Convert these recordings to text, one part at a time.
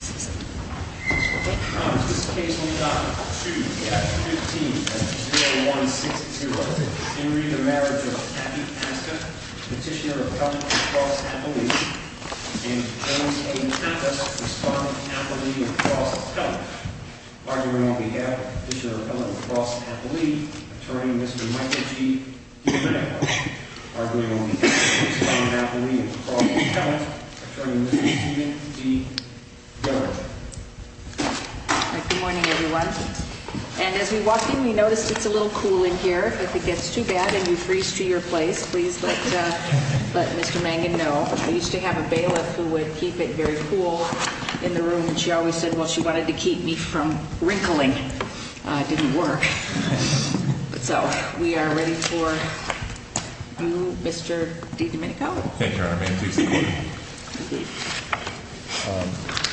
Petitioner of Health, Across Appalachia and Felons A and F of Respondent Appalachia, Across Appalachia. Arguing on behalf of Petitioner of Health, Across Appalachia, Attorney Mr. Michael G. Domenico. Arguing on behalf of Petitioner of Health, Across Appalachia, Attorney Mr. Stephen G. Domenico. Good morning everyone. And as we walked in we noticed it's a little cool in here. If it gets too bad and you freeze to your place, please let Mr. Mangan know. I used to have a bailiff who would keep it very cool in the room and she always said well she wanted to keep me from wrinkling. It didn't work. So we are ready for you Mr. Domenico. Thank you Your Honor. May I please be seated.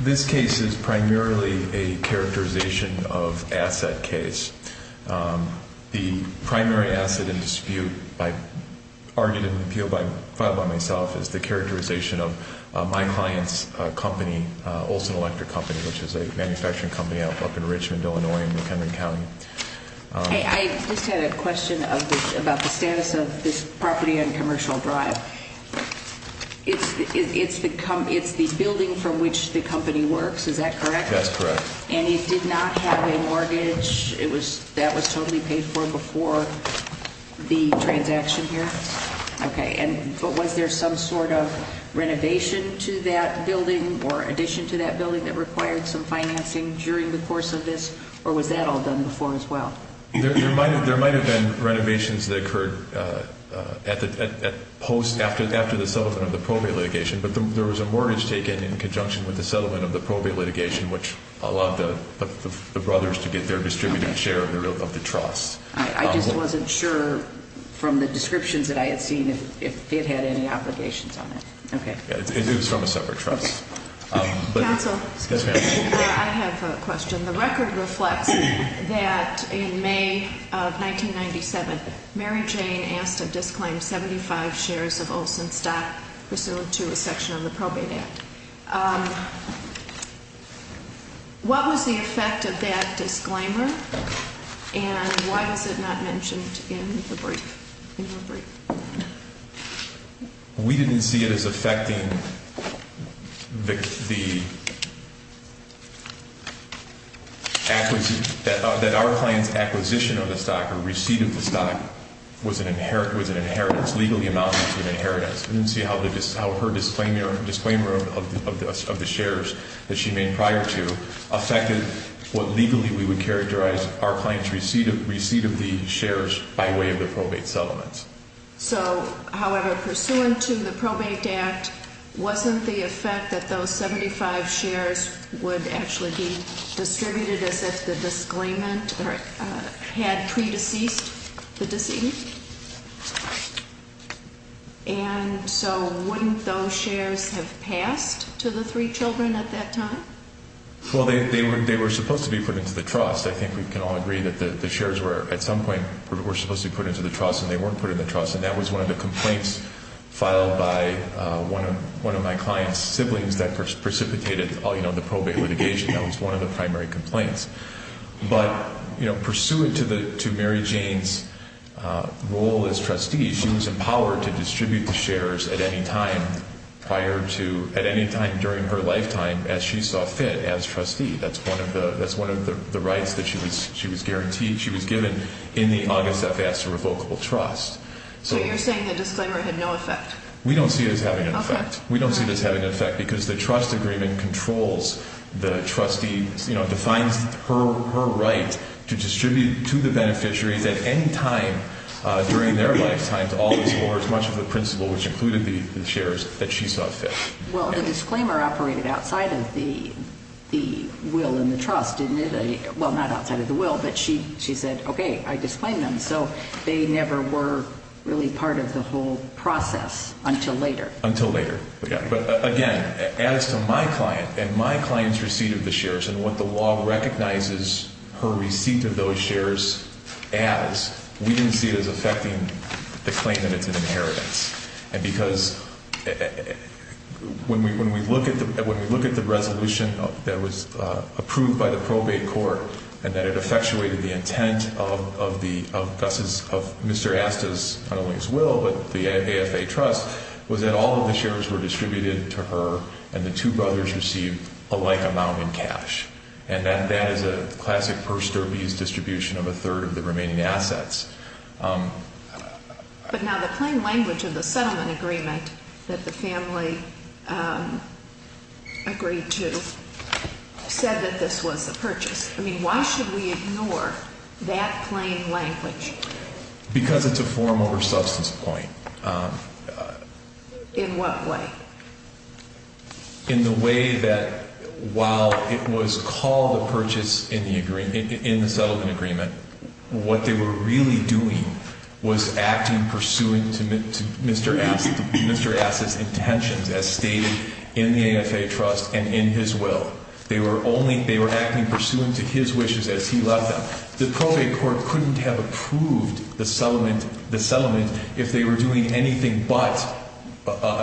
This case is primarily a characterization of asset case. The primary asset in dispute argued in the appeal filed by myself is the characterization of my client's company, Olson Electric Company, which is a manufacturing company up in Richmond, Illinois in McHenry County. I just had a question about the status of this property on Commercial Drive. It's the building from which the company works, is that correct? That's correct. And it did not have a mortgage. That was totally paid for before the transaction here? Okay, and was there some sort of renovation to that building or addition to that building that required some financing during the course of this or was that all done before as well? There might have been renovations that occurred after the settlement of the probate litigation but there was a mortgage taken in conjunction with the settlement of the probate litigation which allowed the brothers to get their distributed share of the trust. I just wasn't sure from the descriptions that I had seen if it had any obligations on it. It was from a separate trust. Counsel, I have a question. The record reflects that in May of 1997, Mary Jane asked to disclaim 75 shares of Olson stock pursuant to a section of the probate act. What was the effect of that disclaimer and why was it not mentioned in her brief? We didn't see it as affecting the acquisition, that our client's acquisition of the stock or receipt of the stock was an inheritance, legally amounts to an inheritance. We didn't see how her disclaimer of the shares that she made prior to affected what legally we would characterize our client's receipt of the shares by way of the probate settlements. So, however, pursuant to the probate act, wasn't the effect that those 75 shares would actually be And so wouldn't those shares have passed to the three children at that time? Well, they were supposed to be put into the trust. I think we can all agree that the shares were, at some point, were supposed to be put into the trust and they weren't put into the trust and that was one of the complaints filed by one of my client's siblings that precipitated the probate litigation. That was one of the primary complaints. But, you know, pursuant to Mary Jane's role as trustee, she was empowered to distribute the shares at any time prior to, at any time during her lifetime as she saw fit as trustee. That's one of the rights that she was guaranteed. She was given in the August FS to revocable trust. So you're saying the disclaimer had no effect? We don't see it as having an effect. We don't see it as having an effect because the trust agreement controls the trustee, you know, defines her right to distribute to the beneficiaries at any time during their lifetimes all these orders, much of the principal, which included the shares, that she saw fit. Well, the disclaimer operated outside of the will and the trust, didn't it? Well, not outside of the will, but she said, okay, I disclaim them. So they never were really part of the whole process until later. Until later. But, again, as to my client and my client's receipt of the shares and what the law recognizes her receipt of those shares as, we didn't see it as affecting the claim that it's an inheritance. And because when we look at the resolution that was approved by the probate court and that it effectuated the intent of Mr. Asta's, not only his will, but the AFA trust, was that all of the shares were distributed to her and the two brothers received a like amount in cash. And that is a classic purse derbies distribution of a third of the remaining assets. But now the plain language of the settlement agreement that the family agreed to said that this was a purchase. I mean, why should we ignore that plain language? Because it's a form over substance point. In what way? In the way that while it was called a purchase in the settlement agreement, what they were really doing was acting pursuant to Mr. Asta's intentions as stated in the AFA trust and in his will. They were acting pursuant to his wishes as he left them. The probate court couldn't have approved the settlement if they were doing anything but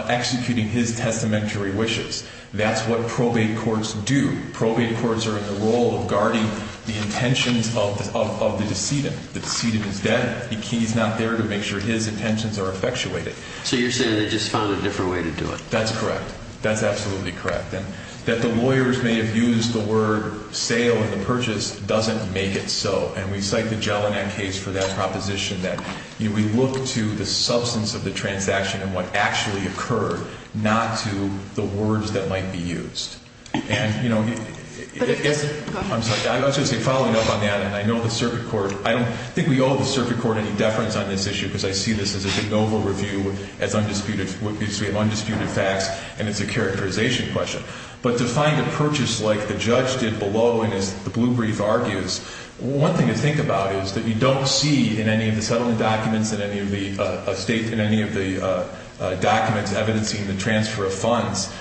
executing his testamentary wishes. That's what probate courts do. Probate courts are in the role of guarding the intentions of the decedent. The decedent is dead. He's not there to make sure his intentions are effectuated. So you're saying they just found a different way to do it. That's correct. That's absolutely correct. That the lawyers may have used the word sale in the purchase doesn't make it so. And we cite the Jelinek case for that proposition that we look to the substance of the transaction and what actually occurred, not to the words that might be used. And, you know, I'm sorry, I was going to say following up on that, and I know the circuit court, I don't think we owe the circuit court any deference on this issue because I see this as a de novo review, as we have undisputed facts, and it's a characterization question. But to find a purchase like the judge did below, and as the blue brief argues, one thing to think about is that you don't see in any of the settlement documents, in any of the documents evidencing the transfer of funds,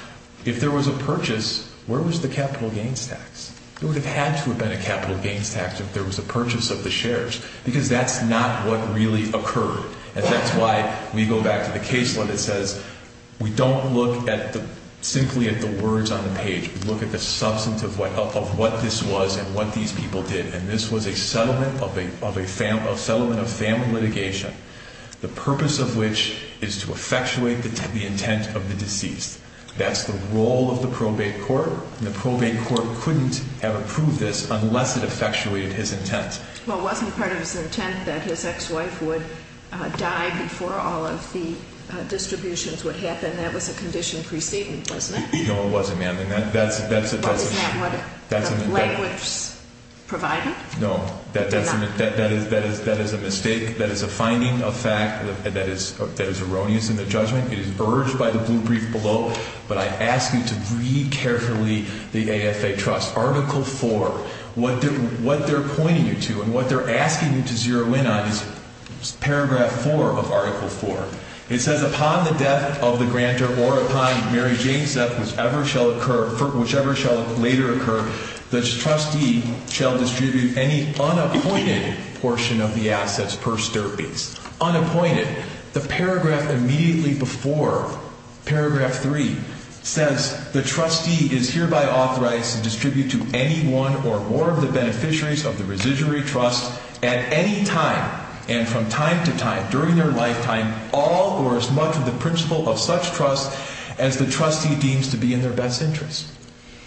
if there was a purchase, where was the capital gains tax? There would have had to have been a capital gains tax if there was a purchase of the shares because that's not what really occurred. And that's why we go back to the case law that says we don't look simply at the words on the page. We look at the substance of what this was and what these people did. And this was a settlement of family litigation, the purpose of which is to effectuate the intent of the deceased. That's the role of the probate court, and the probate court couldn't have approved this unless it effectuated his intent. Well, it wasn't part of his intent that his ex-wife would die before all of the distributions would happen. That was a condition pre-statement, wasn't it? No, it wasn't, ma'am. Well, isn't that what language's providing? No, that is a mistake. That is a finding of fact that is erroneous in the judgment. It is urged by the blue brief below. But I ask you to read carefully the AFA trust. Article 4, what they're pointing you to and what they're asking you to zero in on is Paragraph 4 of Article 4. It says, Upon the death of the grantor or upon Mary Jane's death, whichever shall later occur, the trustee shall distribute any unappointed portion of the assets per stirpes. Unappointed. The paragraph immediately before Paragraph 3 says, The trustee is hereby authorized to distribute to any one or more of the beneficiaries of the Residuary Trust at any time and from time to time during their lifetime all or as much of the principal of such trust as the trustee deems to be in their best interest.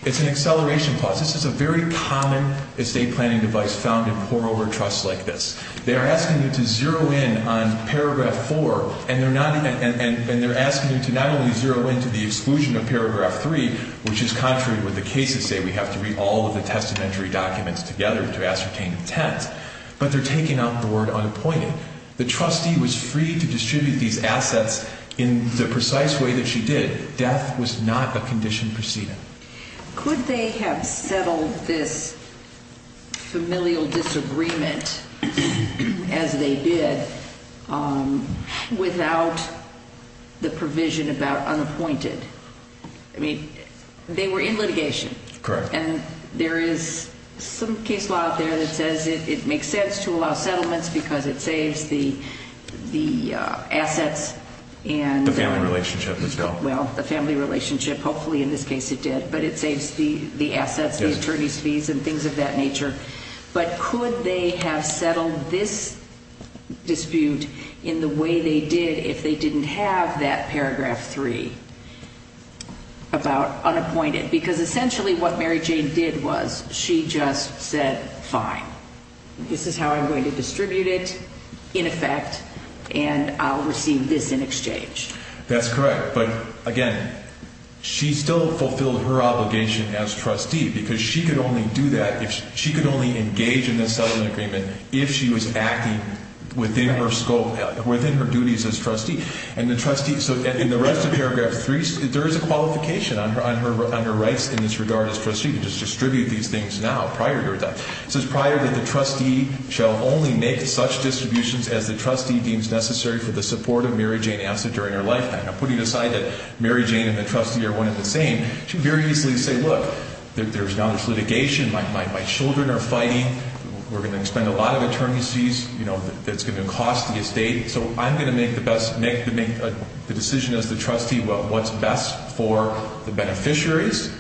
It's an acceleration clause. This is a very common estate planning device found in pour-over trusts like this. They are asking you to zero in on Paragraph 4, and they're asking you to not only zero in to the exclusion of Paragraph 3, which is contrary to what the cases say, we have to read all of the testamentary documents together to ascertain intent, but they're taking out the word unappointed. The trustee was free to distribute these assets in the precise way that she did. Death was not a condition preceding. Could they have settled this familial disagreement as they did without the provision about unappointed? I mean, they were in litigation. Correct. And there is some case law out there that says it makes sense to allow settlements because it saves the assets. The family relationship was dealt. Well, the family relationship, hopefully in this case it did, but it saves the assets, the attorney's fees, and things of that nature. But could they have settled this dispute in the way they did if they didn't have that Paragraph 3 about unappointed? Because essentially what Mary Jane did was she just said, fine, this is how I'm going to distribute it in effect, and I'll receive this in exchange. That's correct. But, again, she still fulfilled her obligation as trustee because she could only do that, she could only engage in this settlement agreement if she was acting within her scope, within her duties as trustee. And the trustee, so in the rest of Paragraph 3, there is a qualification on her rights in this regard as trustee to just distribute these things now prior to her death. It says prior that the trustee shall only make such distributions as the trustee deems necessary for the support of Mary Jane Asset during her lifetime. Now, putting aside that Mary Jane and the trustee are one and the same, she could very easily say, look, there's now this litigation, my children are fighting, we're going to spend a lot of attorney's fees, it's going to cost the estate, so I'm going to make the decision as the trustee what's best for the beneficiaries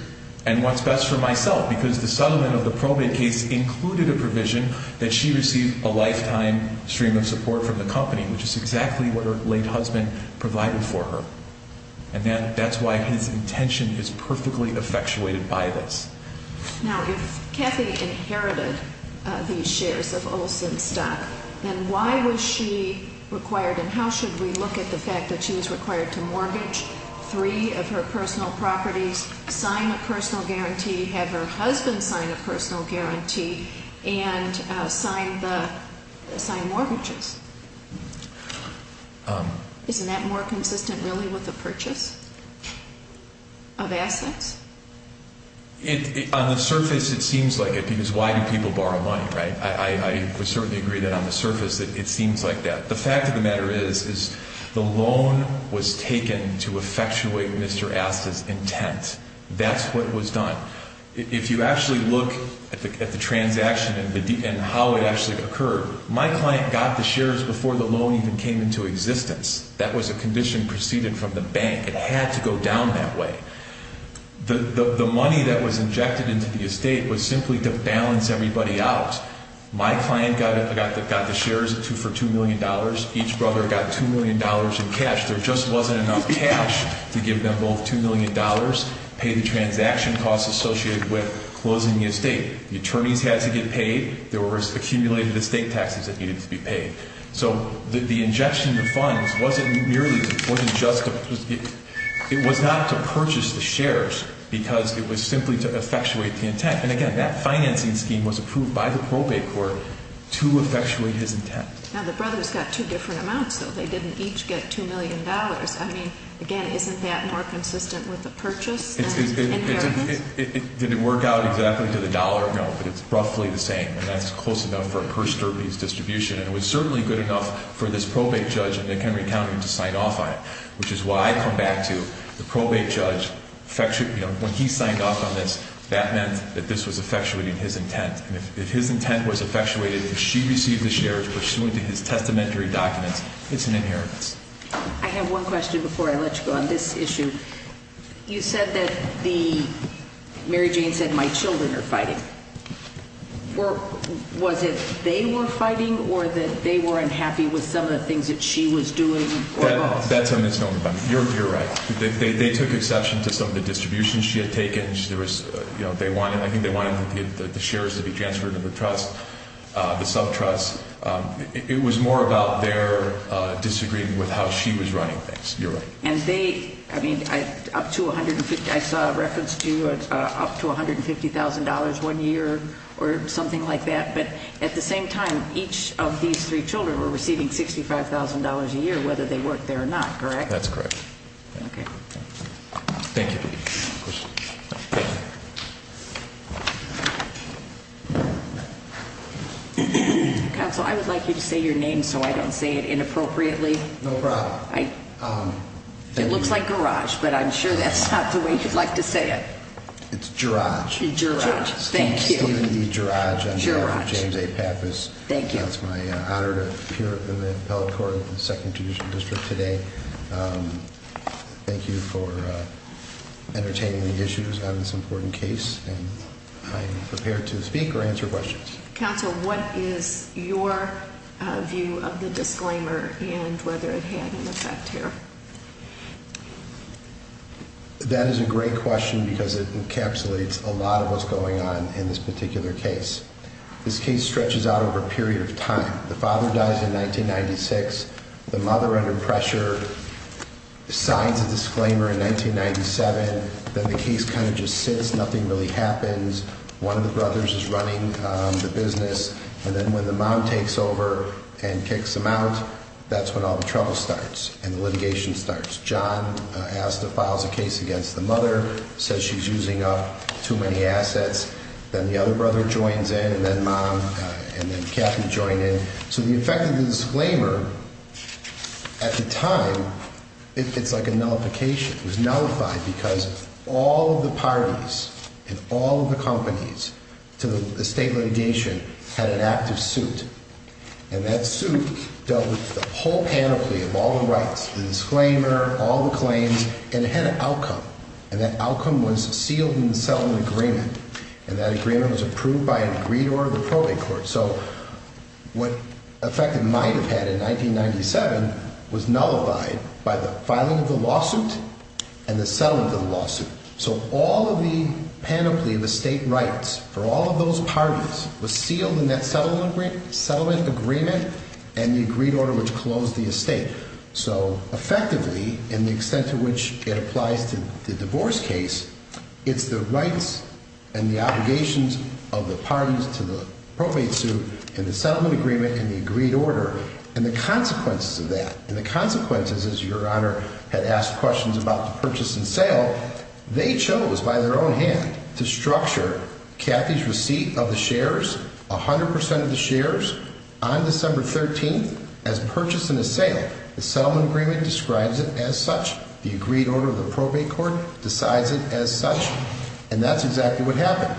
and what's best for myself. Because the settlement of the probate case included a provision that she receive a lifetime stream of support from the company, which is exactly what her late husband provided for her. And that's why his intention is perfectly effectuated by this. Now, if Kathy inherited these shares of Olsen stock, then why was she required and how should we look at the fact that she was required to mortgage three of her personal properties, sign a personal guarantee, have her husband sign a personal guarantee, and sign mortgages? Isn't that more consistent really with the purchase of assets? On the surface, it seems like it, because why do people borrow money, right? I would certainly agree that on the surface it seems like that. The fact of the matter is the loan was taken to effectuate Mr. Asta's intent. That's what was done. If you actually look at the transaction and how it actually occurred, my client got the shares before the loan even came into existence. That was a condition preceded from the bank. It had to go down that way. The money that was injected into the estate was simply to balance everybody out. My client got the shares for $2 million. Each brother got $2 million in cash. There just wasn't enough cash to give them both $2 million, pay the transaction costs associated with closing the estate. The attorneys had to get paid. There was accumulated estate taxes that needed to be paid. So the injection of funds wasn't merely just to purchase the shares because it was simply to effectuate the intent. And, again, that financing scheme was approved by the probate court to effectuate his intent. Now the brothers got two different amounts, though. They didn't each get $2 million. I mean, again, isn't that more consistent with the purchase than inheritance? Did it work out exactly to the dollar? No, but it's roughly the same, and that's close enough for a purse-derbies distribution. And it was certainly good enough for this probate judge in McHenry County to sign off on it, which is why I come back to the probate judge. When he signed off on this, that meant that this was effectuating his intent. And if his intent was effectuated and she received the shares pursuant to his testamentary documents, it's an inheritance. I have one question before I let you go on this issue. You said that Mary Jane said my children are fighting. Was it they were fighting or that they were unhappy with some of the things that she was doing? That's what I'm assuming about it. You're right. They took exception to some of the distributions she had taken. I think they wanted the shares to be transferred to the trust, the sub-trust. It was more about their disagreeing with how she was running things. You're right. And they, I mean, I saw a reference to up to $150,000 one year or something like that. But at the same time, each of these three children were receiving $65,000 a year whether they worked there or not, correct? That's correct. Okay. Thank you. Counsel, I would like you to say your name so I don't say it inappropriately. No problem. It looks like garage, but I'm sure that's not the way you'd like to say it. It's Gerage. Gerage. Thank you. My name is Gerage. Gerage. I'm here with James A. Pappas. Thank you. It's my honor to appear in the appellate court in the second judicial district today. Thank you for entertaining the issues on this important case, and I am prepared to speak or answer questions. Counsel, what is your view of the disclaimer and whether it had an effect here? That is a great question because it encapsulates a lot of what's going on in this particular case. This case stretches out over a period of time. The father dies in 1996. The mother, under pressure, signs a disclaimer in 1997. Then the case kind of just sits. Nothing really happens. One of the brothers is running the business. And then when the mom takes over and kicks him out, that's when all the trouble starts and the litigation starts. John files a case against the mother, says she's using up too many assets. Then the other brother joins in, and then mom and then Kathy join in. So the effect of the disclaimer, at the time, it's like a nullification. It was nullified because all of the parties and all of the companies to the state litigation had an active suit. And that suit dealt with the whole panoply of all the rights, the disclaimer, all the claims, and it had an outcome. And that outcome was sealed in the settlement agreement. And that agreement was approved by an agreed order of the probate court. So what effect it might have had in 1997 was nullified by the filing of the lawsuit and the settling of the lawsuit. So all of the panoply of estate rights for all of those parties was sealed in that settlement agreement and the agreed order which closed the estate. So effectively, in the extent to which it applies to the divorce case, it's the rights and the obligations of the parties to the probate suit and the settlement agreement and the agreed order and the consequences of that. And the consequences, as Your Honor had asked questions about the purchase and sale, they chose by their own hand to structure Kathy's receipt of the shares, 100% of the shares, on December 13th as purchase and a sale. The settlement agreement describes it as such. The agreed order of the probate court decides it as such. And that's exactly what happened.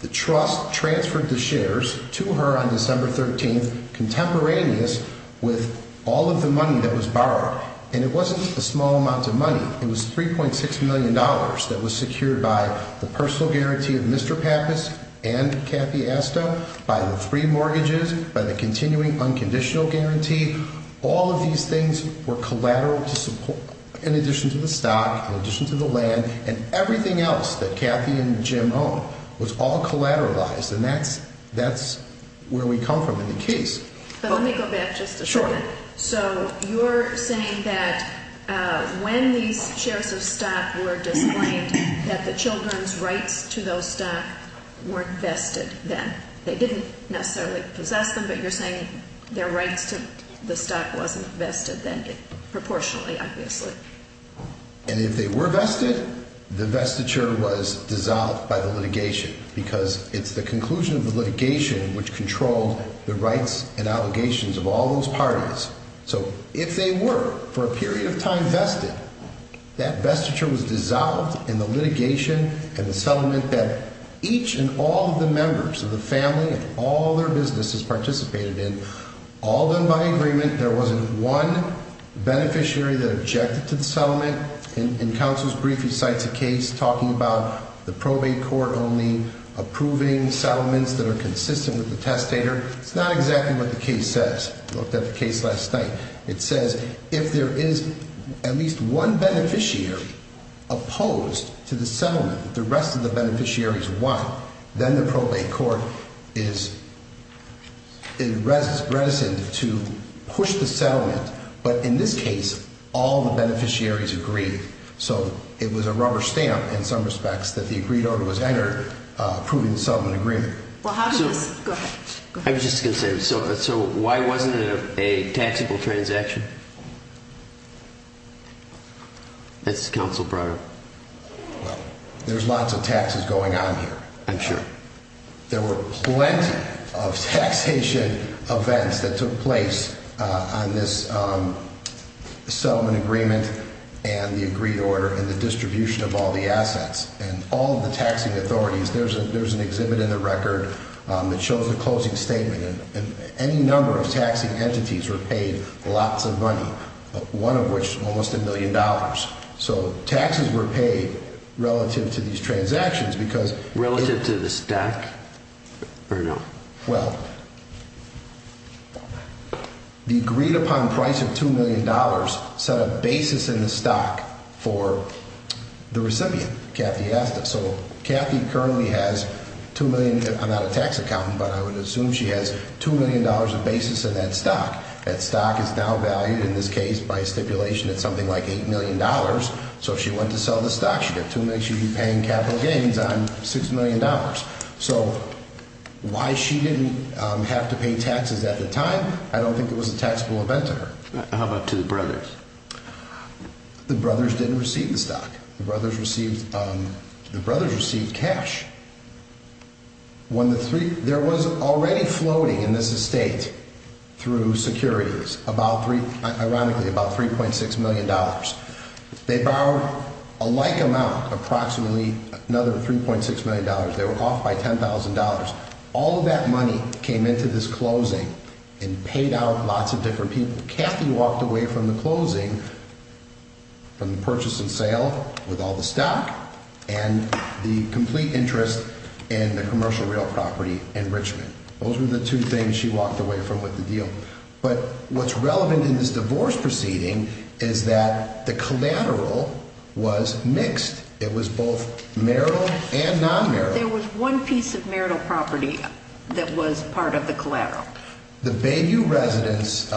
The trust transferred the shares to her on December 13th contemporaneous with all of the money that was borrowed. And it wasn't a small amount of money. It was $3.6 million that was secured by the personal guarantee of Mr. Pappas and Kathy Astow, by the three mortgages, by the continuing unconditional guarantee. All of these things were collateral in addition to the stock, in addition to the land, and everything else that Kathy and Jim owned was all collateralized. And that's where we come from in the case. But let me go back just a second. Sure. So you're saying that when these shares of stock were disclaimed, that the children's rights to those stock weren't vested then. They didn't necessarily possess them, but you're saying their rights to the stock wasn't vested then, proportionally, obviously. And if they were vested, the vestiture was dissolved by the litigation because it's the conclusion of the litigation which controlled the rights and allegations of all those parties. So if they were, for a period of time, vested, that vestiture was dissolved in the litigation and the settlement that each and all of the members of the family and all their businesses participated in, all done by agreement. There wasn't one beneficiary that objected to the settlement. In counsel's brief, he cites a case talking about the probate court only approving settlements that are consistent with the testator. It's not exactly what the case says. I looked at the case last night. It says if there is at least one beneficiary opposed to the settlement, the rest of the beneficiaries won. Then the probate court is reticent to push the settlement. But in this case, all the beneficiaries agreed. So it was a rubber stamp in some respects that the agreed order was entered approving the settlement agreement. Well, how does this – go ahead. I was just going to say. So why wasn't it a taxable transaction? That's counsel brought up. There's lots of taxes going on here. I'm sure. There were plenty of taxation events that took place on this settlement agreement and the agreed order and the distribution of all the assets. And all of the taxing authorities – there's an exhibit in the record that shows the closing statement. And any number of taxing entities were paid lots of money, one of which almost a million dollars. So taxes were paid relative to these transactions because – Relative to the stack or no? Well, the agreed upon price of $2 million set a basis in the stock for the recipient, Kathy Asta. So Kathy currently has $2 million – I'm not a tax accountant, but I would assume she has $2 million of basis in that stock. That stock is now valued in this case by stipulation at something like $8 million. So if she went to sell the stock, she'd have 2 million – she'd be paying capital gains on $6 million. So why she didn't have to pay taxes at the time, I don't think it was a taxable event to her. How about to the brothers? The brothers didn't receive the stock. The brothers received cash. There was already floating in this estate through securities, ironically, about $3.6 million. They borrowed a like amount, approximately another $3.6 million. They were off by $10,000. All of that money came into this closing and paid out lots of different people. Kathy walked away from the closing from the purchase and sale with all the stock and the complete interest in the commercial real property enrichment. Those were the two things she walked away from with the deal. But what's relevant in this divorce proceeding is that the collateral was mixed. It was both marital and non-marital. There was one piece of marital property that was part of the collateral. The Bayview residence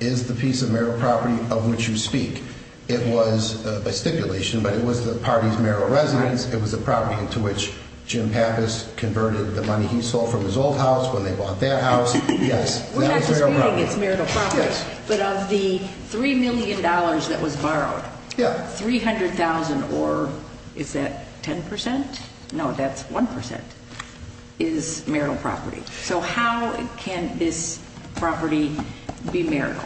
is the piece of marital property of which you speak. It was a stipulation, but it was the party's marital residence. It was a property into which Jim Pappas converted the money he sold from his old house when they bought that house. We're not disputing it's marital property, but of the $3 million that was borrowed, $300,000 or is that 10%? No, that's 1% is marital property. So how can this property be marital?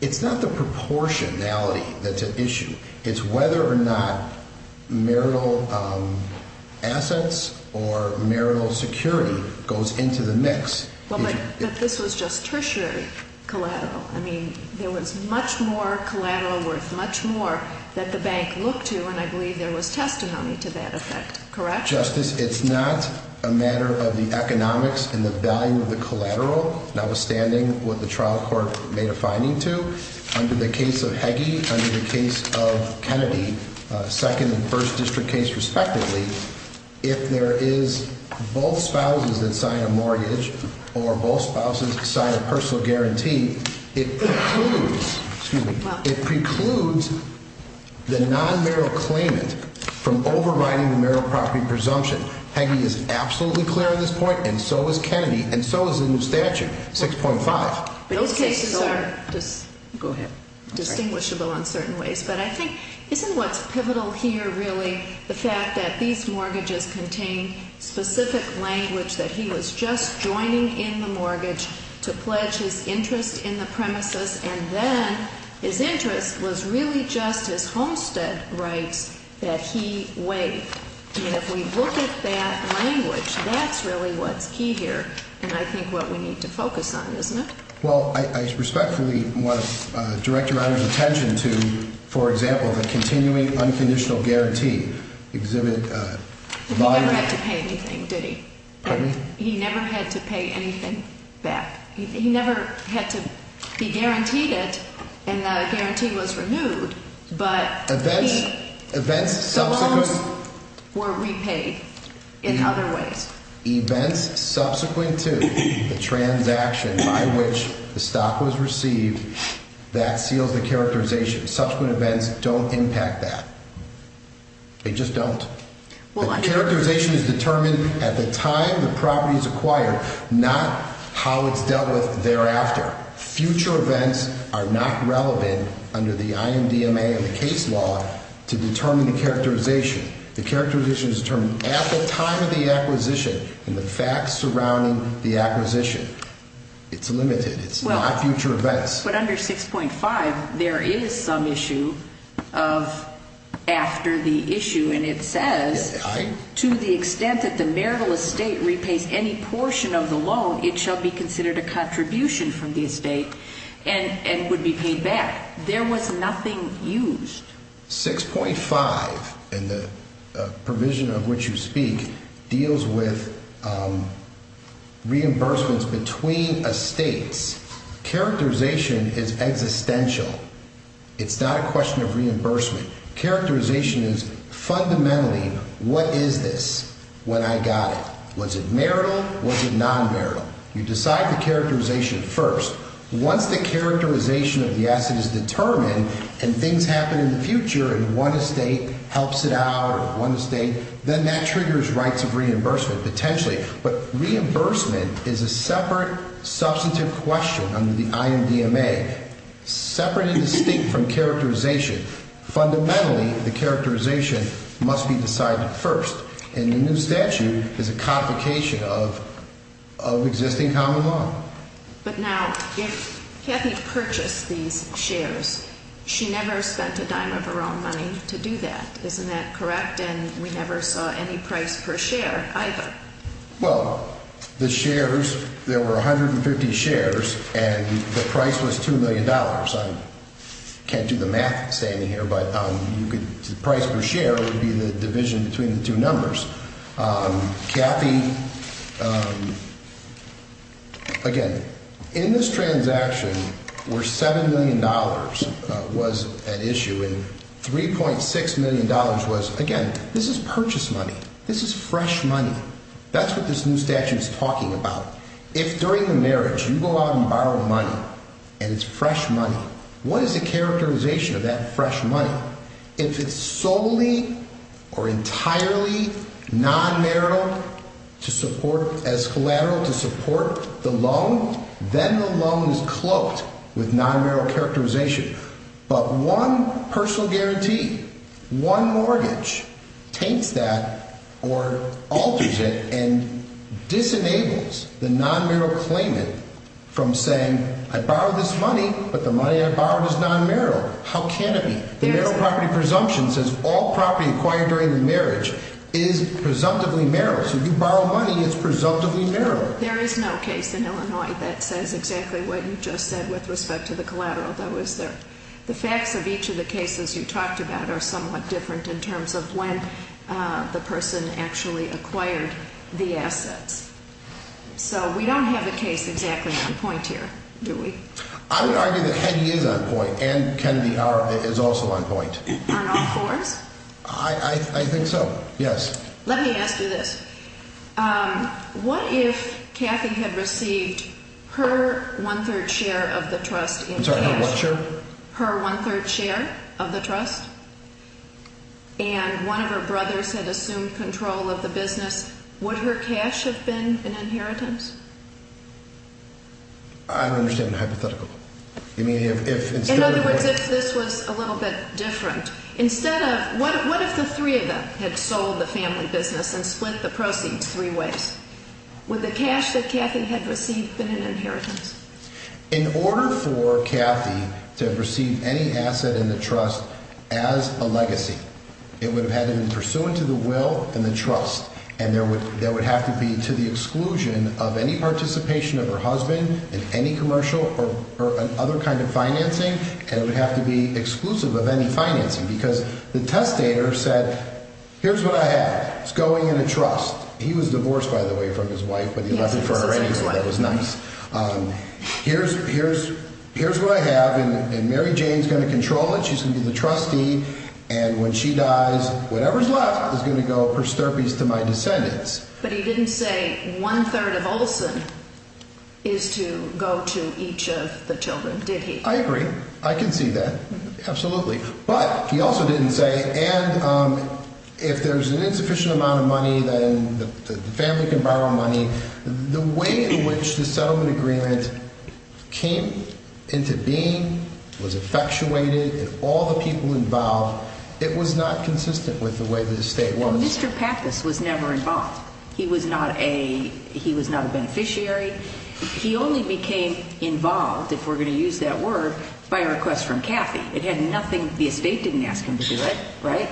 It's not the proportionality that's at issue. It's whether or not marital assets or marital security goes into the mix. Well, but this was just tertiary collateral. I mean, there was much more collateral worth much more that the bank looked to, and I believe there was testimony to that effect, correct? Justice, it's not a matter of the economics and the value of the collateral, notwithstanding what the trial court made a finding to. Under the case of Hagee, under the case of Kennedy, second and first district case respectively, if there is both spouses that sign a mortgage or both spouses sign a personal guarantee, it precludes the non-marital claimant from overriding the marital property presumption. Hagee is absolutely clear on this point, and so is Kennedy, and so is the new statute, 6.5. Those cases are distinguishable in certain ways, but I think isn't what's pivotal here really the fact that these mortgages contain specific language that he was just joining in the mortgage to pledge his interest in the premises, and then his interest was really just his homestead rights that he waived? I mean, if we look at that language, that's really what's key here, and I think what we need to focus on, isn't it? Well, I respectfully want to direct your Honor's attention to, for example, the continuing unconditional guarantee exhibited by the- He never had to pay anything, did he? Pardon me? He never had to pay anything back. He never had to be guaranteed it, and the guarantee was removed, but he- Events subsequent- Some loans were repaid in other ways. Events subsequent to the transaction by which the stock was received, that seals the characterization. Subsequent events don't impact that. They just don't. Characterization is determined at the time the property is acquired, not how it's dealt with thereafter. Future events are not relevant under the IMDMA and the case law to determine the characterization. The characterization is determined at the time of the acquisition and the facts surrounding the acquisition. It's limited. It's not future events. But under 6.5, there is some issue of after the issue, and it says, to the extent that the marital estate repays any portion of the loan, it shall be considered a contribution from the estate and would be paid back. There was nothing used. 6.5, and the provision of which you speak, deals with reimbursements between estates. Characterization is existential. It's not a question of reimbursement. Characterization is fundamentally, what is this when I got it? Was it marital? Was it non-marital? You decide the characterization first. Once the characterization of the asset is determined, and things happen in the future, and one estate helps it out or one estate, then that triggers rights of reimbursement potentially. But reimbursement is a separate, substantive question under the IMDMA. Separate and distinct from characterization. Fundamentally, the characterization must be decided first. And the new statute is a complication of existing common law. But now, if Kathy purchased these shares, she never spent a dime of her own money to do that. Isn't that correct? And we never saw any price per share either. Well, the shares, there were 150 shares, and the price was $2 million. I can't do the math standing here, but the price per share would be the division between the two numbers. Kathy, again, in this transaction where $7 million was at issue and $3.6 million was, again, this is purchase money. This is fresh money. That's what this new statute is talking about. If during the marriage you go out and borrow money, and it's fresh money, what is the characterization of that fresh money? Now, if it's solely or entirely non-marital to support as collateral to support the loan, then the loan is cloaked with non-marital characterization. But one personal guarantee, one mortgage takes that or alters it and disenables the non-marital claimant from saying, I borrowed this money, but the money I borrowed is non-marital. How can it be? The marital property presumption says all property acquired during the marriage is presumptively marital. So if you borrow money, it's presumptively marital. There is no case in Illinois that says exactly what you just said with respect to the collateral, though, is there? The facts of each of the cases you talked about are somewhat different in terms of when the person actually acquired the assets. So we don't have a case exactly on point here, do we? I would argue that Heggie is on point, and Kennedy is also on point. Arnold Forbes? I think so, yes. Let me ask you this. What if Kathy had received her one-third share of the trust in cash? I'm sorry, her what share? Her one-third share of the trust, and one of her brothers had assumed control of the business, would her cash have been an inheritance? I don't understand the hypothetical. In other words, if this was a little bit different, what if the three of them had sold the family business and split the proceeds three ways? Would the cash that Kathy had received been an inheritance? In order for Kathy to have received any asset in the trust as a legacy, it would have had to be pursuant to the will and the trust, and there would have to be to the exclusion of any participation of her husband in any commercial or other kind of financing, and it would have to be exclusive of any financing, because the testator said, Here's what I have. It's going in a trust. He was divorced, by the way, from his wife, but he left it for her anyway, so that was nice. Here's what I have, and Mary Jane's going to control it. She's going to be the trustee, and when she dies, whatever's left is going to go, per sterpes, to my descendants. But he didn't say one-third of Olson is to go to each of the children, did he? I agree. I can see that. Absolutely. But he also didn't say, and if there's an insufficient amount of money, then the family can borrow money. The way in which the settlement agreement came into being, was effectuated, and all the people involved, it was not consistent with the way the estate was. Mr. Pappas was never involved. He was not a beneficiary. He only became involved, if we're going to use that word, by request from Cathy. It had nothing, the estate didn't ask him to do it, right?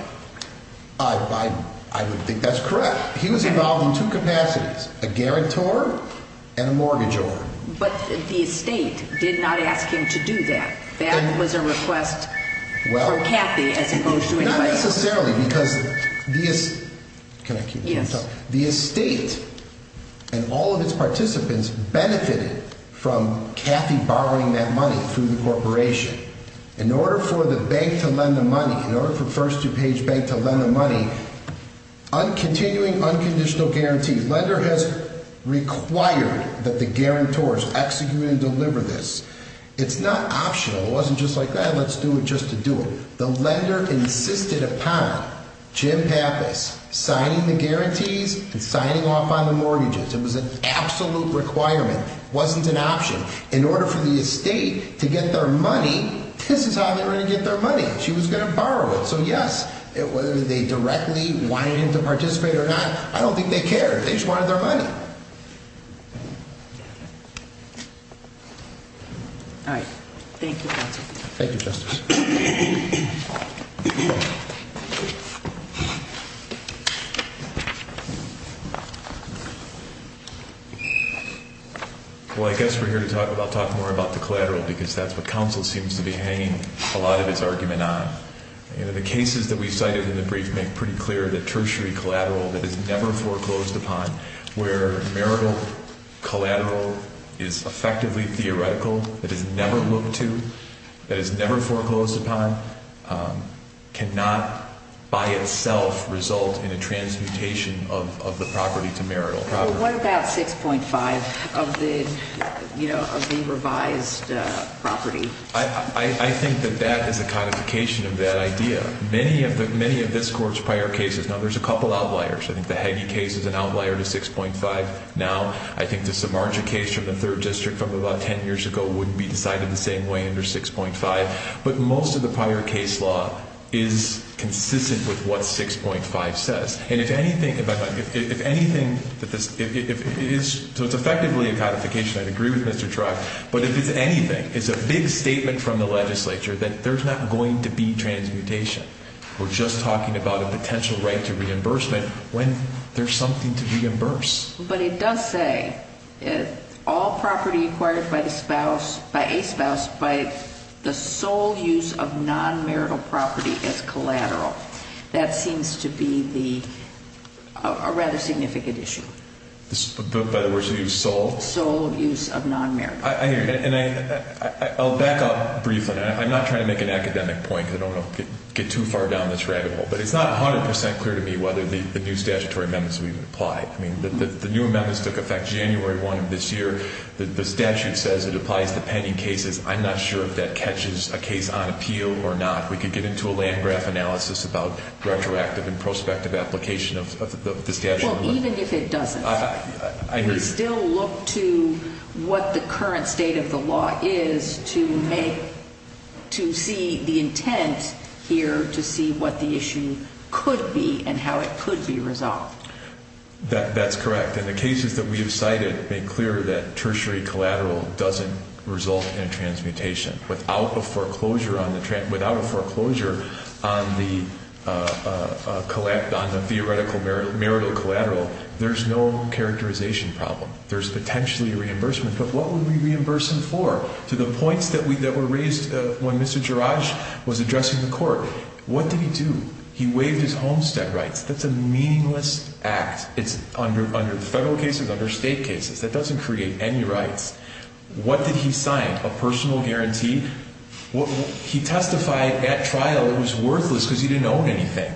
I would think that's correct. He was involved in two capacities, a guarantor and a mortgage owner. But the estate did not ask him to do that. That was a request for Cathy as opposed to anybody else. Not necessarily, because the estate and all of its participants benefited from Cathy borrowing that money through the corporation. In order for the bank to lend the money, in order for First DuPage Bank to lend the money, continuing unconditional guarantees, lender has required that the guarantors execute and deliver this. It's not optional. It wasn't just like, let's do it just to do it. The lender insisted upon Jim Pappas signing the guarantees and signing off on the mortgages. It was an absolute requirement. It wasn't an option. In order for the estate to get their money, this is how they were going to get their money. She was going to borrow it. So yes, whether they directly wanted him to participate or not, I don't think they cared. They just wanted their money. All right. Thank you, counsel. Thank you, Justice. Well, I guess we're here to talk more about the collateral, because that's what counsel seems to be hanging a lot of its argument on. You know, the cases that we cited in the brief make pretty clear the tertiary collateral that is never foreclosed upon, where marital collateral is effectively theoretical, that is never looked to, that is never foreclosed upon, cannot by itself result in a transmutation of the property to marital property. Well, what about 6.5 of the revised property? I think that that is a codification of that idea. Many of this Court's prior cases, now there's a couple outliers. I think the Hagee case is an outlier to 6.5 now. I think the Samarja case from the 3rd District from about 10 years ago wouldn't be decided the same way under 6.5. But most of the prior case law is consistent with what 6.5 says. And if anything, if anything, so it's effectively a codification. I'd agree with Mr. Tribe. But if it's anything, it's a big statement from the legislature that there's not going to be transmutation. We're just talking about a potential right to reimbursement when there's something to reimburse. But it does say, all property acquired by the spouse, by a spouse, by the sole use of non-marital property as collateral. That seems to be the, a rather significant issue. By the words you use, sole? Sole use of non-marital. I hear you. And I'll back up briefly. I'm not trying to make an academic point because I don't want to get too far down this rabbit hole. But it's not 100% clear to me whether the new statutory amendments will even apply. I mean, the new amendments took effect January 1 of this year. The statute says it applies to pending cases. I'm not sure if that catches a case on appeal or not. We could get into a land graph analysis about retroactive and prospective application of the statute. Well, even if it doesn't, we still look to what the current state of the law is to make, to see the intent here to see what the issue could be and how it could be resolved. That's correct. And the cases that we have cited make clear that tertiary collateral doesn't result in transmutation. Without a foreclosure on the theoretical marital collateral, there's no characterization problem. There's potentially reimbursement. But what would we reimburse him for? To the points that were raised when Mr. Gerage was addressing the court, what did he do? He waived his homestead rights. That's a meaningless act. It's under federal cases, under state cases. That doesn't create any rights. What did he sign? A personal guarantee? He testified at trial it was worthless because he didn't own anything.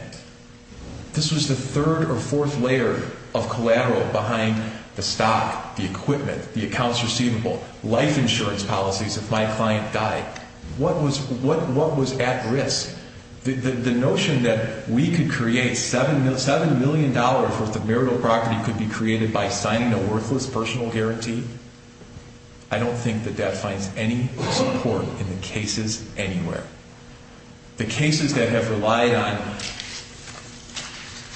This was the third or fourth layer of collateral behind the stock, the equipment, the accounts receivable, life insurance policies if my client died. What was at risk? The notion that we could create $7 million worth of marital property could be created by signing a worthless personal guarantee? I don't think that that finds any support in the cases anywhere. The cases that have relied on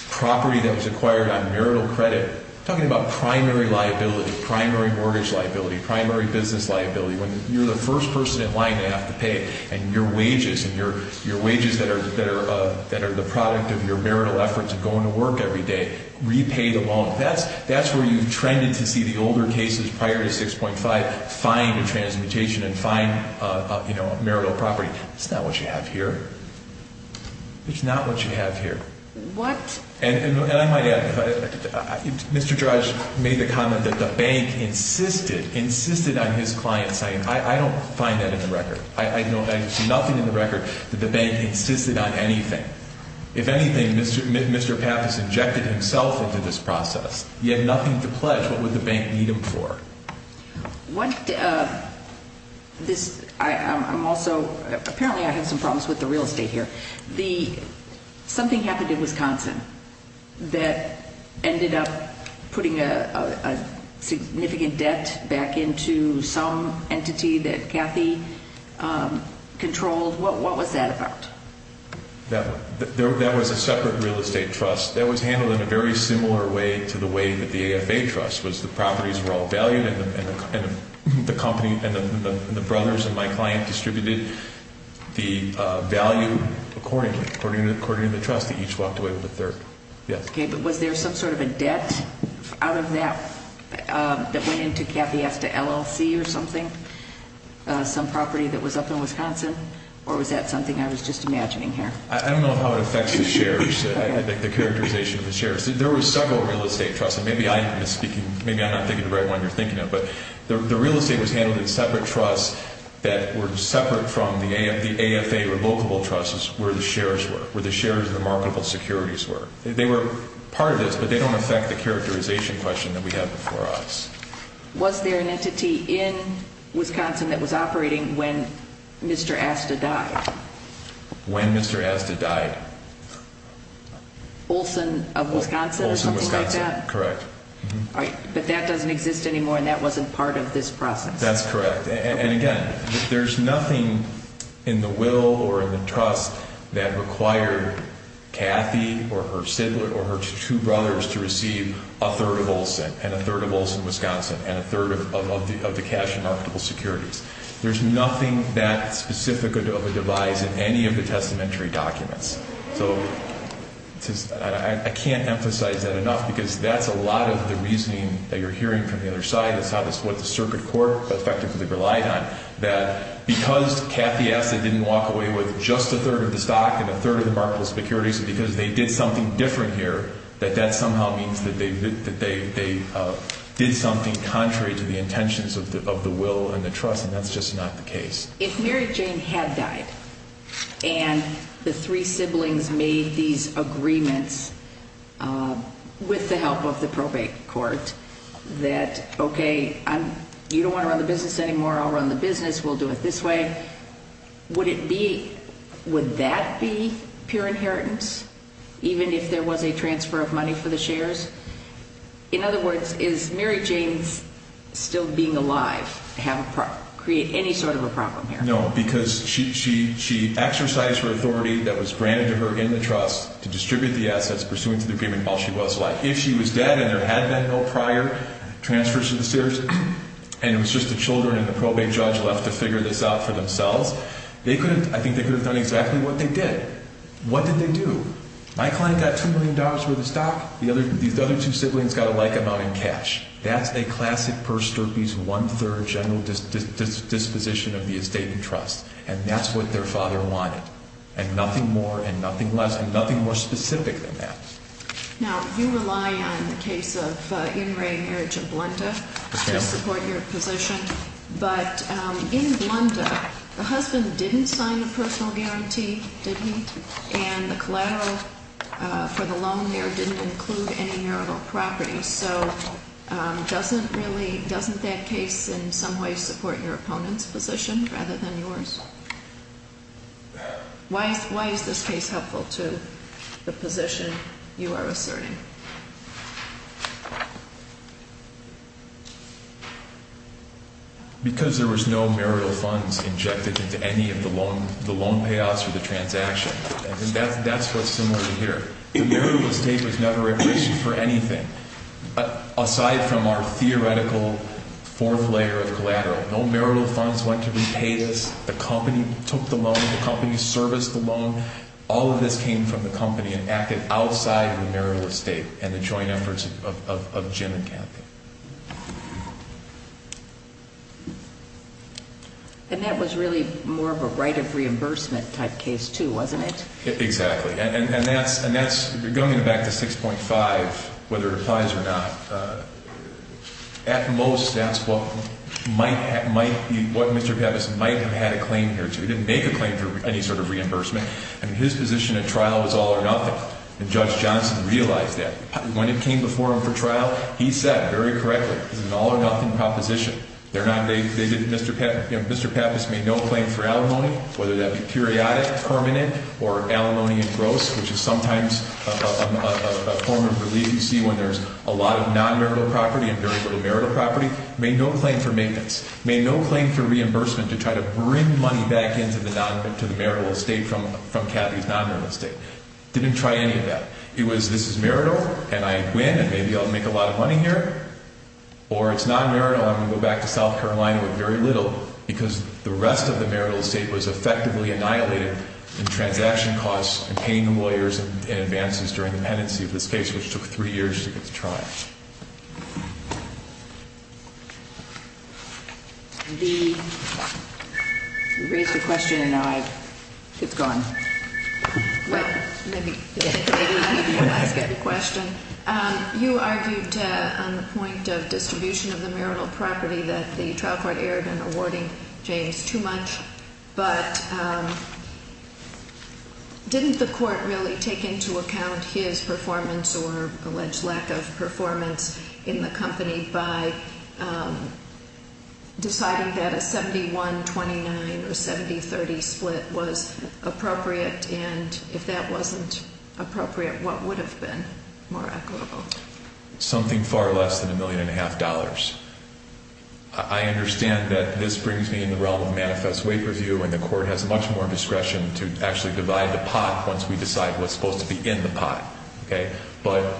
property that was acquired on marital credit, talking about primary liability, primary mortgage liability, primary business liability, when you're the first person in line to have to pay and your wages, and your wages that are the product of your marital efforts of going to work every day, repay the loan. That's where you've trended to see the older cases prior to 6.5 find a transmutation and find a marital property. It's not what you have here. It's not what you have here. What? And I might add, Mr. Drudge made the comment that the bank insisted, insisted on his client signing. I don't find that in the record. I know that there's nothing in the record that the bank insisted on anything. If anything, Mr. Papp has injected himself into this process. He had nothing to pledge. What would the bank need him for? What this, I'm also, apparently I have some problems with the real estate here. The, something happened in Wisconsin that ended up putting a significant debt back into some entity that Kathy controlled. What was that about? That was a separate real estate trust. That was handled in a very similar way to the way that the AFA trust was. The properties were all valued, and the company, and the brothers and my client distributed the value accordingly, according to the trust that each walked away with a third. Yes. Okay, but was there some sort of a debt out of that that went into Kathy as to LLC or something, some property that was up in Wisconsin, or was that something I was just imagining here? I don't know how it affects the shares, the characterization of the shares. There were several real estate trusts, and maybe I'm not speaking, maybe I'm not thinking the right one you're thinking of, but the real estate was handled in separate trusts that were separate from the AFA revocable trusts where the shares were, where the shares of the marketable securities were. They were part of this, but they don't affect the characterization question that we have before us. Was there an entity in Wisconsin that was operating when Mr. Asta died? When Mr. Asta died? Olson of Wisconsin or something like that? Olson, Wisconsin, correct. All right, but that doesn't exist anymore, and that wasn't part of this process. That's correct, and again, there's nothing in the will or in the trust that required Kathy or her sibling or her two brothers to receive a third of Olson, and a third of Olson, Wisconsin, and a third of the cash and marketable securities. There's nothing that specific of a device in any of the testamentary documents. So I can't emphasize that enough because that's a lot of the reasoning that you're hearing from the other side. It's what the circuit court effectively relied on, that because Kathy Asta didn't walk away with just a third of the stock and a third of the marketable securities, because they did something different here, that that somehow means that they did something contrary to the intentions of the will and the trust, and that's just not the case. If Mary Jane had died and the three siblings made these agreements with the help of the probate court that, okay, you don't want to run the business anymore, I'll run the business, we'll do it this way, would that be pure inheritance, even if there was a transfer of money for the shares? In other words, is Mary Jane's still being alive create any sort of a problem here? No, because she exercised her authority that was granted to her in the trust to distribute the assets pursuant to the agreement while she was alive. If she was dead and there had been no prior transfers to the shares, and it was just the children and the probate judge left to figure this out for themselves, I think they could have done exactly what they did. What did they do? My client got $2 million worth of stock. These other two siblings got a like amount in cash. That's a classic purse derpies one-third general disposition of the estate and trust, and that's what their father wanted, and nothing more and nothing less and nothing more specific than that. Now, you rely on the case of in-ray marriage in Blunda to support your position, but in Blunda, the husband didn't sign a personal guarantee, did he? And the collateral for the loan there didn't include any marital property, so doesn't that case in some way support your opponent's position rather than yours? Why is this case helpful to the position you are asserting? Because there was no marital funds injected into any of the loan payouts or the transaction. That's what's similar to here. The marital estate was never a risk for anything aside from our theoretical fourth layer of collateral. No marital funds went to repay this. The company took the loan. The company serviced the loan. All of this came from the company and acted outside the marital estate and the joint efforts of Jim and Kathy. And that was really more of a right of reimbursement type case too, wasn't it? Exactly, and that's going back to 6.5, whether it applies or not. At most, that's what Mr. Pappas might have had a claim here to. He didn't make a claim for any sort of reimbursement. His position at trial was all or nothing, and Judge Johnson realized that. When it came before him for trial, he said very correctly, it's an all or nothing proposition. Mr. Pappas made no claim for alimony, whether that be periodic, permanent, or alimony in gross, which is sometimes a form of relief you see when there's a lot of non-marital property and very little marital property. Made no claim for maintenance. Made no claim for reimbursement to try to bring money back into the marital estate from Kathy's non-marital estate. Didn't try any of that. It was, this is marital, and I win, and maybe I'll make a lot of money here. Or it's non-marital, I'm going to go back to South Carolina with very little, because the rest of the marital estate was effectively annihilated in transaction costs and paying the lawyers in advances during the pendency of this case, which took three years to get to trial. We raised a question, and now it's gone. Let me ask a question. You argued on the point of distribution of the marital property that the trial court erred in awarding James too much, but didn't the court really take into account his performance or alleged lack of performance in the company by deciding that a 71-29 or 70-30 split was appropriate? And if that wasn't appropriate, what would have been more equitable? Something far less than a million and a half dollars. I understand that this brings me in the realm of manifest weight review, and the court has much more discretion to actually divide the pot once we decide what's supposed to be in the pot. But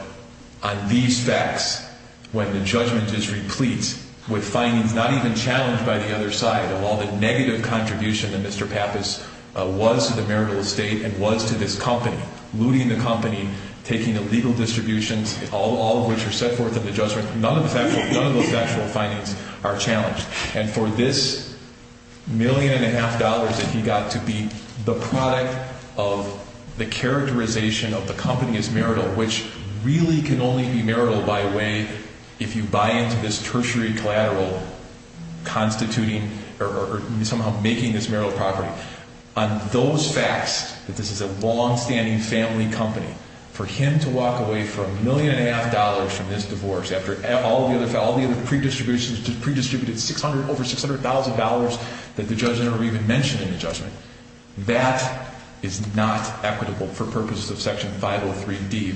on these facts, when the judgment is replete with findings not even challenged by the other side of all the negative contribution that Mr. Pappas was to the marital estate and was to this company, looting the company, taking illegal distributions, all of which are set forth in the judgment, none of those factual findings are challenged. And for this million and a half dollars that he got to be the product of the characterization of the company as marital, which really can only be marital by way, if you buy into this tertiary collateral, constituting or somehow making this marital property. On those facts, that this is a long-standing family company, for him to walk away for a million and a half dollars from this divorce after all the other pre-distributions, pre-distributed over $600,000 that the judge never even mentioned in the judgment, that is not equitable for purposes of Section 503D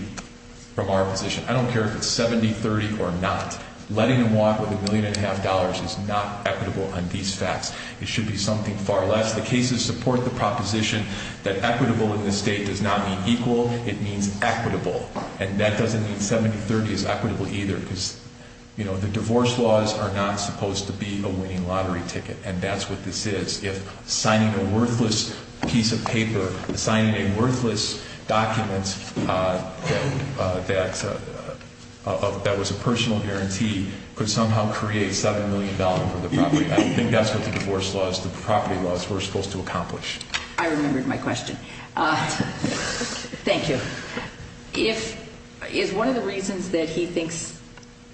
from our position. I don't care if it's 70-30 or not. Letting him walk with a million and a half dollars is not equitable on these facts. It should be something far less. The cases support the proposition that equitable in this state does not mean equal. It means equitable. And that doesn't mean 70-30 is equitable either because, you know, the divorce laws are not supposed to be a winning lottery ticket, and that's what this is. If signing a worthless piece of paper, signing a worthless document that was a personal guarantee could somehow create $7 million for the property. I think that's what the divorce laws, the property laws were supposed to accomplish. I remembered my question. Thank you. Is one of the reasons that he thinks,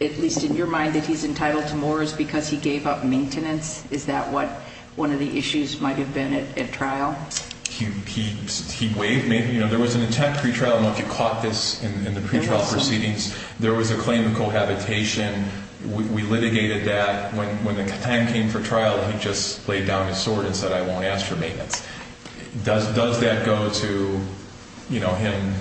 at least in your mind, that he's entitled to more, is because he gave up maintenance? Is that what one of the issues might have been at trial? He waived maintenance. There was an intent pre-trial. I don't know if you caught this in the pre-trial proceedings. There was a claim of cohabitation. We litigated that. When the time came for trial, he just laid down his sword and said, I won't ask for maintenance. Does that go to, you know, him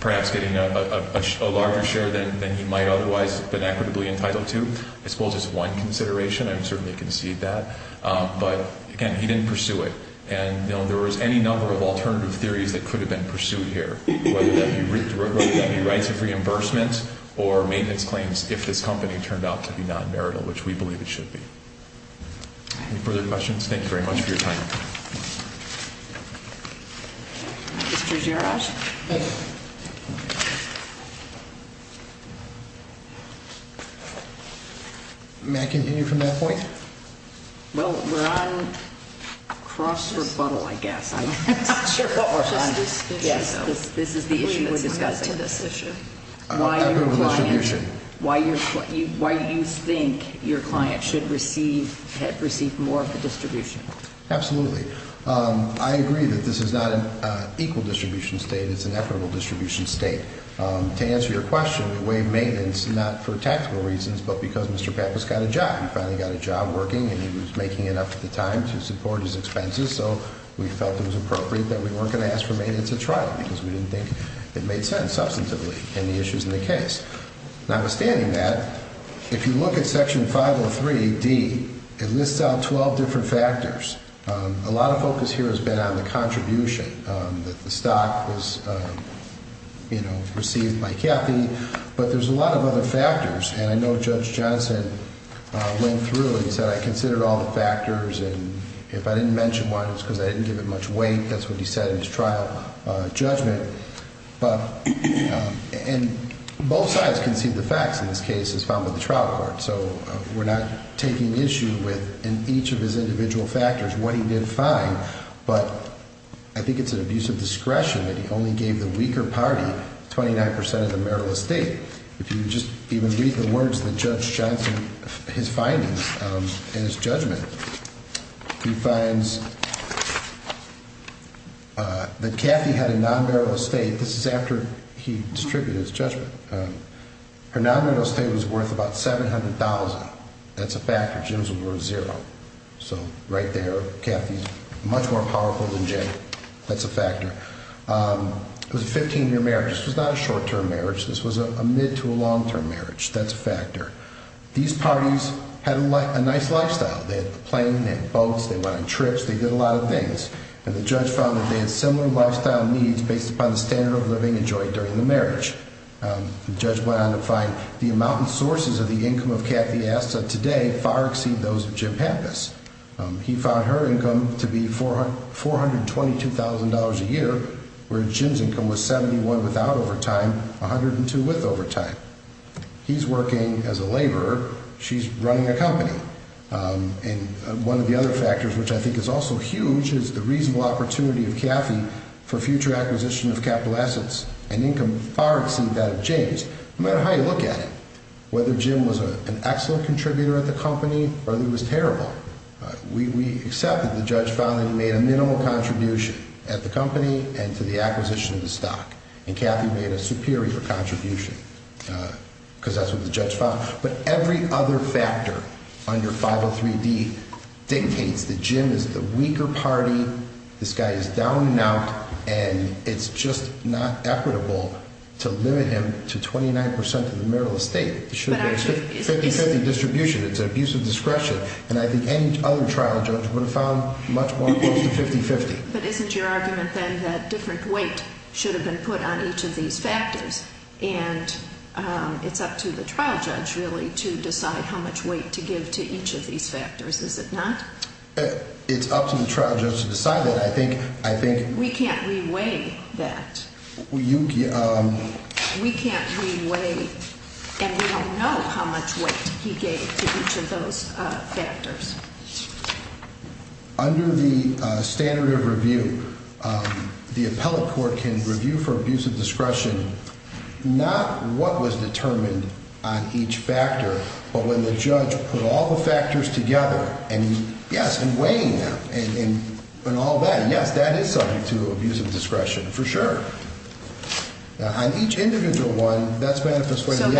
perhaps getting a larger share than he might otherwise have been equitably entitled to? I suppose it's one consideration. I would certainly concede that. But, again, he didn't pursue it. And there was any number of alternative theories that could have been pursued here, whether that be rights of reimbursement or maintenance claims, if this company turned out to be non-marital, which we believe it should be. Any further questions? Thank you very much for your time. Mr. Gerash? May I continue from that point? Well, we're on cross-rebuttal, I guess. I'm not sure what we're on. Just this issue, though. This is the issue we're discussing. Equitable distribution. Why do you think your client should receive more of the distribution? Absolutely. I agree that this is not an equal distribution state. It's an equitable distribution state. To answer your question, we waived maintenance not for tactical reasons, but because Mr. Pappas got a job. He finally got a job working, and he was making enough of the time to support his expenses. So we felt it was appropriate that we weren't going to ask for maintenance at trial because we didn't think it made sense. But we felt that we were going to have to do it substantively in the issues in the case. Notwithstanding that, if you look at Section 503D, it lists out 12 different factors. A lot of focus here has been on the contribution, that the stock was received by Kathy. But there's a lot of other factors, and I know Judge Johnson went through and said, I considered all the factors, and if I didn't mention one, it's because I didn't give it much weight. I think that's what he said in his trial judgment. And both sides can see the facts in this case as found by the trial court. So we're not taking issue with, in each of his individual factors, what he did fine. But I think it's an abuse of discretion that he only gave the weaker party 29% of the marital estate. If you just even read the words that Judge Johnson, his findings in his judgment, he finds that Kathy had a non-marital estate. This is after he distributed his judgment. Her non-marital estate was worth about $700,000. That's a factor. Jim's was worth zero. So right there, Kathy's much more powerful than Jay. That's a factor. It was a 15-year marriage. This was not a short-term marriage. This was a mid- to a long-term marriage. That's a factor. These parties had a nice lifestyle. They had a plane. They had boats. They went on trips. They did a lot of things. And the judge found that they had similar lifestyle needs based upon the standard of living enjoyed during the marriage. The judge went on to find the amount and sources of the income of Kathy Asta today far exceed those of Jim Pappas. He found her income to be $422,000 a year, where Jim's income was 71 without overtime, 102 with overtime. He's working as a laborer. She's running a company. And one of the other factors, which I think is also huge, is the reasonable opportunity of Kathy for future acquisition of capital assets, an income far exceed that of James, no matter how you look at it. Whether Jim was an excellent contributor at the company or he was terrible, we accept that the judge found that he made a minimal contribution at the company and to the acquisition of the stock. And Kathy made a superior contribution because that's what the judge found. But every other factor on your 503D dictates that Jim is the weaker party. This guy is down and out. And it's just not equitable to limit him to 29% of the marital estate. It should be a 50-50 distribution. It's an abuse of discretion. And I think any other trial judge would have found much more close to 50-50. But isn't your argument then that different weight should have been put on each of these factors? And it's up to the trial judge, really, to decide how much weight to give to each of these factors, is it not? It's up to the trial judge to decide that. I think we can't re-weigh that. We can't re-weigh and we don't know how much weight he gave to each of those factors. Under the standard of review, the appellate court can review for abuse of discretion not what was determined on each factor, but when the judge put all the factors together and, yes, in weighing them and all that. And, yes, that is subject to abuse of discretion for sure. On each individual one, that's manifest weight. So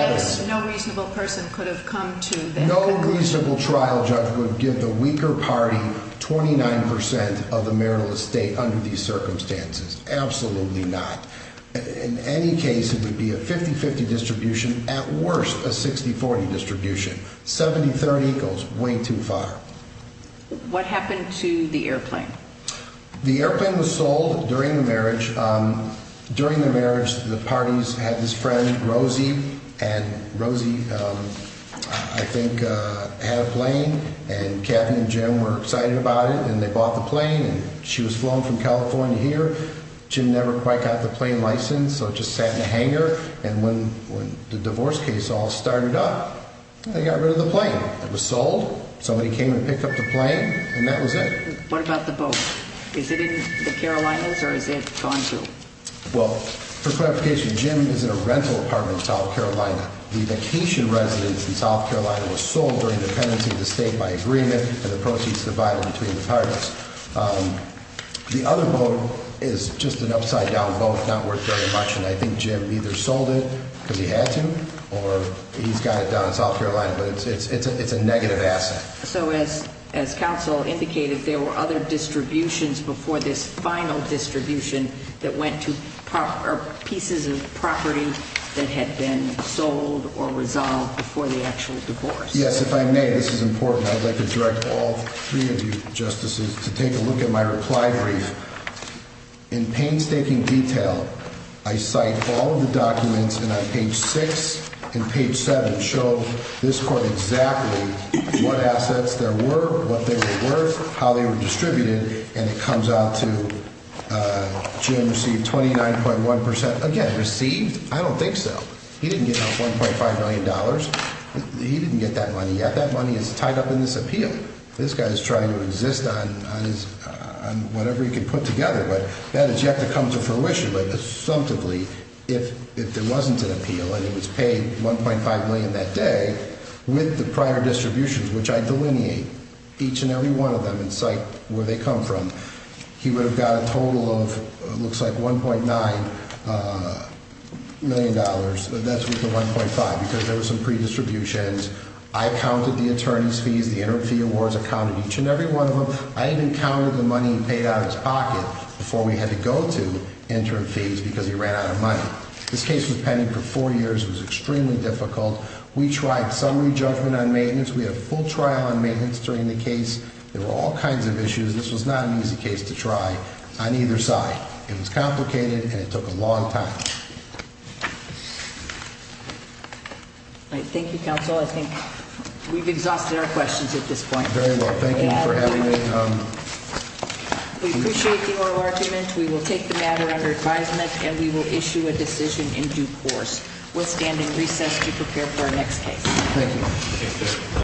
no reasonable person could have come to that conclusion? No reasonable trial judge would give the weaker party 29 percent of the marital estate under these circumstances. Absolutely not. In any case, it would be a 50-50 distribution. At worst, a 60-40 distribution. 70-30 goes way too far. What happened to the airplane? The airplane was sold during the marriage. During the marriage, the parties had this friend, Rosie, and Rosie, I think, had a plane. And Kathy and Jim were excited about it and they bought the plane. And she was flown from California here. Jim never quite got the plane license, so it just sat in a hangar. And when the divorce case all started up, they got rid of the plane. It was sold. Somebody came and picked up the plane, and that was it. What about the boat? Is it in the Carolinas, or has it gone to? Well, for clarification, Jim is in a rental apartment in South Carolina. The vacation residence in South Carolina was sold during the pendency of the state by agreement and the proceeds divided between the parties. The other boat is just an upside-down boat, not worth very much. And I think Jim either sold it because he had to, or he's got it down in South Carolina. But it's a negative asset. So as counsel indicated, there were other distributions before this final distribution that went to pieces of property that had been sold or resolved before the actual divorce. Yes, if I may, this is important. I'd like to direct all three of you justices to take a look at my reply brief. In painstaking detail, I cite all of the documents, and on page 6 and page 7 show this court exactly what assets there were, what they were worth, how they were distributed, and it comes out to Jim received 29.1%. Again, received? I don't think so. He didn't get that $1.5 million. He didn't get that money yet. That money is tied up in this appeal. This guy is trying to insist on whatever he can put together, but that has yet to come to fruition. But assumptively, if there wasn't an appeal and he was paid $1.5 million that day, with the prior distributions, which I delineate each and every one of them and cite where they come from, he would have got a total of, it looks like, $1.9 million. That's worth the $1.5 because there were some pre-distributions. I counted the attorney's fees, the interim fee awards, I counted each and every one of them. I even counted the money he paid out of his pocket before we had to go to interim fees because he ran out of money. This case was pending for four years. It was extremely difficult. We tried summary judgment on maintenance. We had a full trial on maintenance during the case. There were all kinds of issues. This was not an easy case to try on either side. It was complicated, and it took a long time. Thank you, counsel. I think we've exhausted our questions at this point. Very well. Thank you for having me. We appreciate your argument. We will take the matter under advisement, and we will issue a decision in due course. We'll stand in recess to prepare for our next case. Thank you.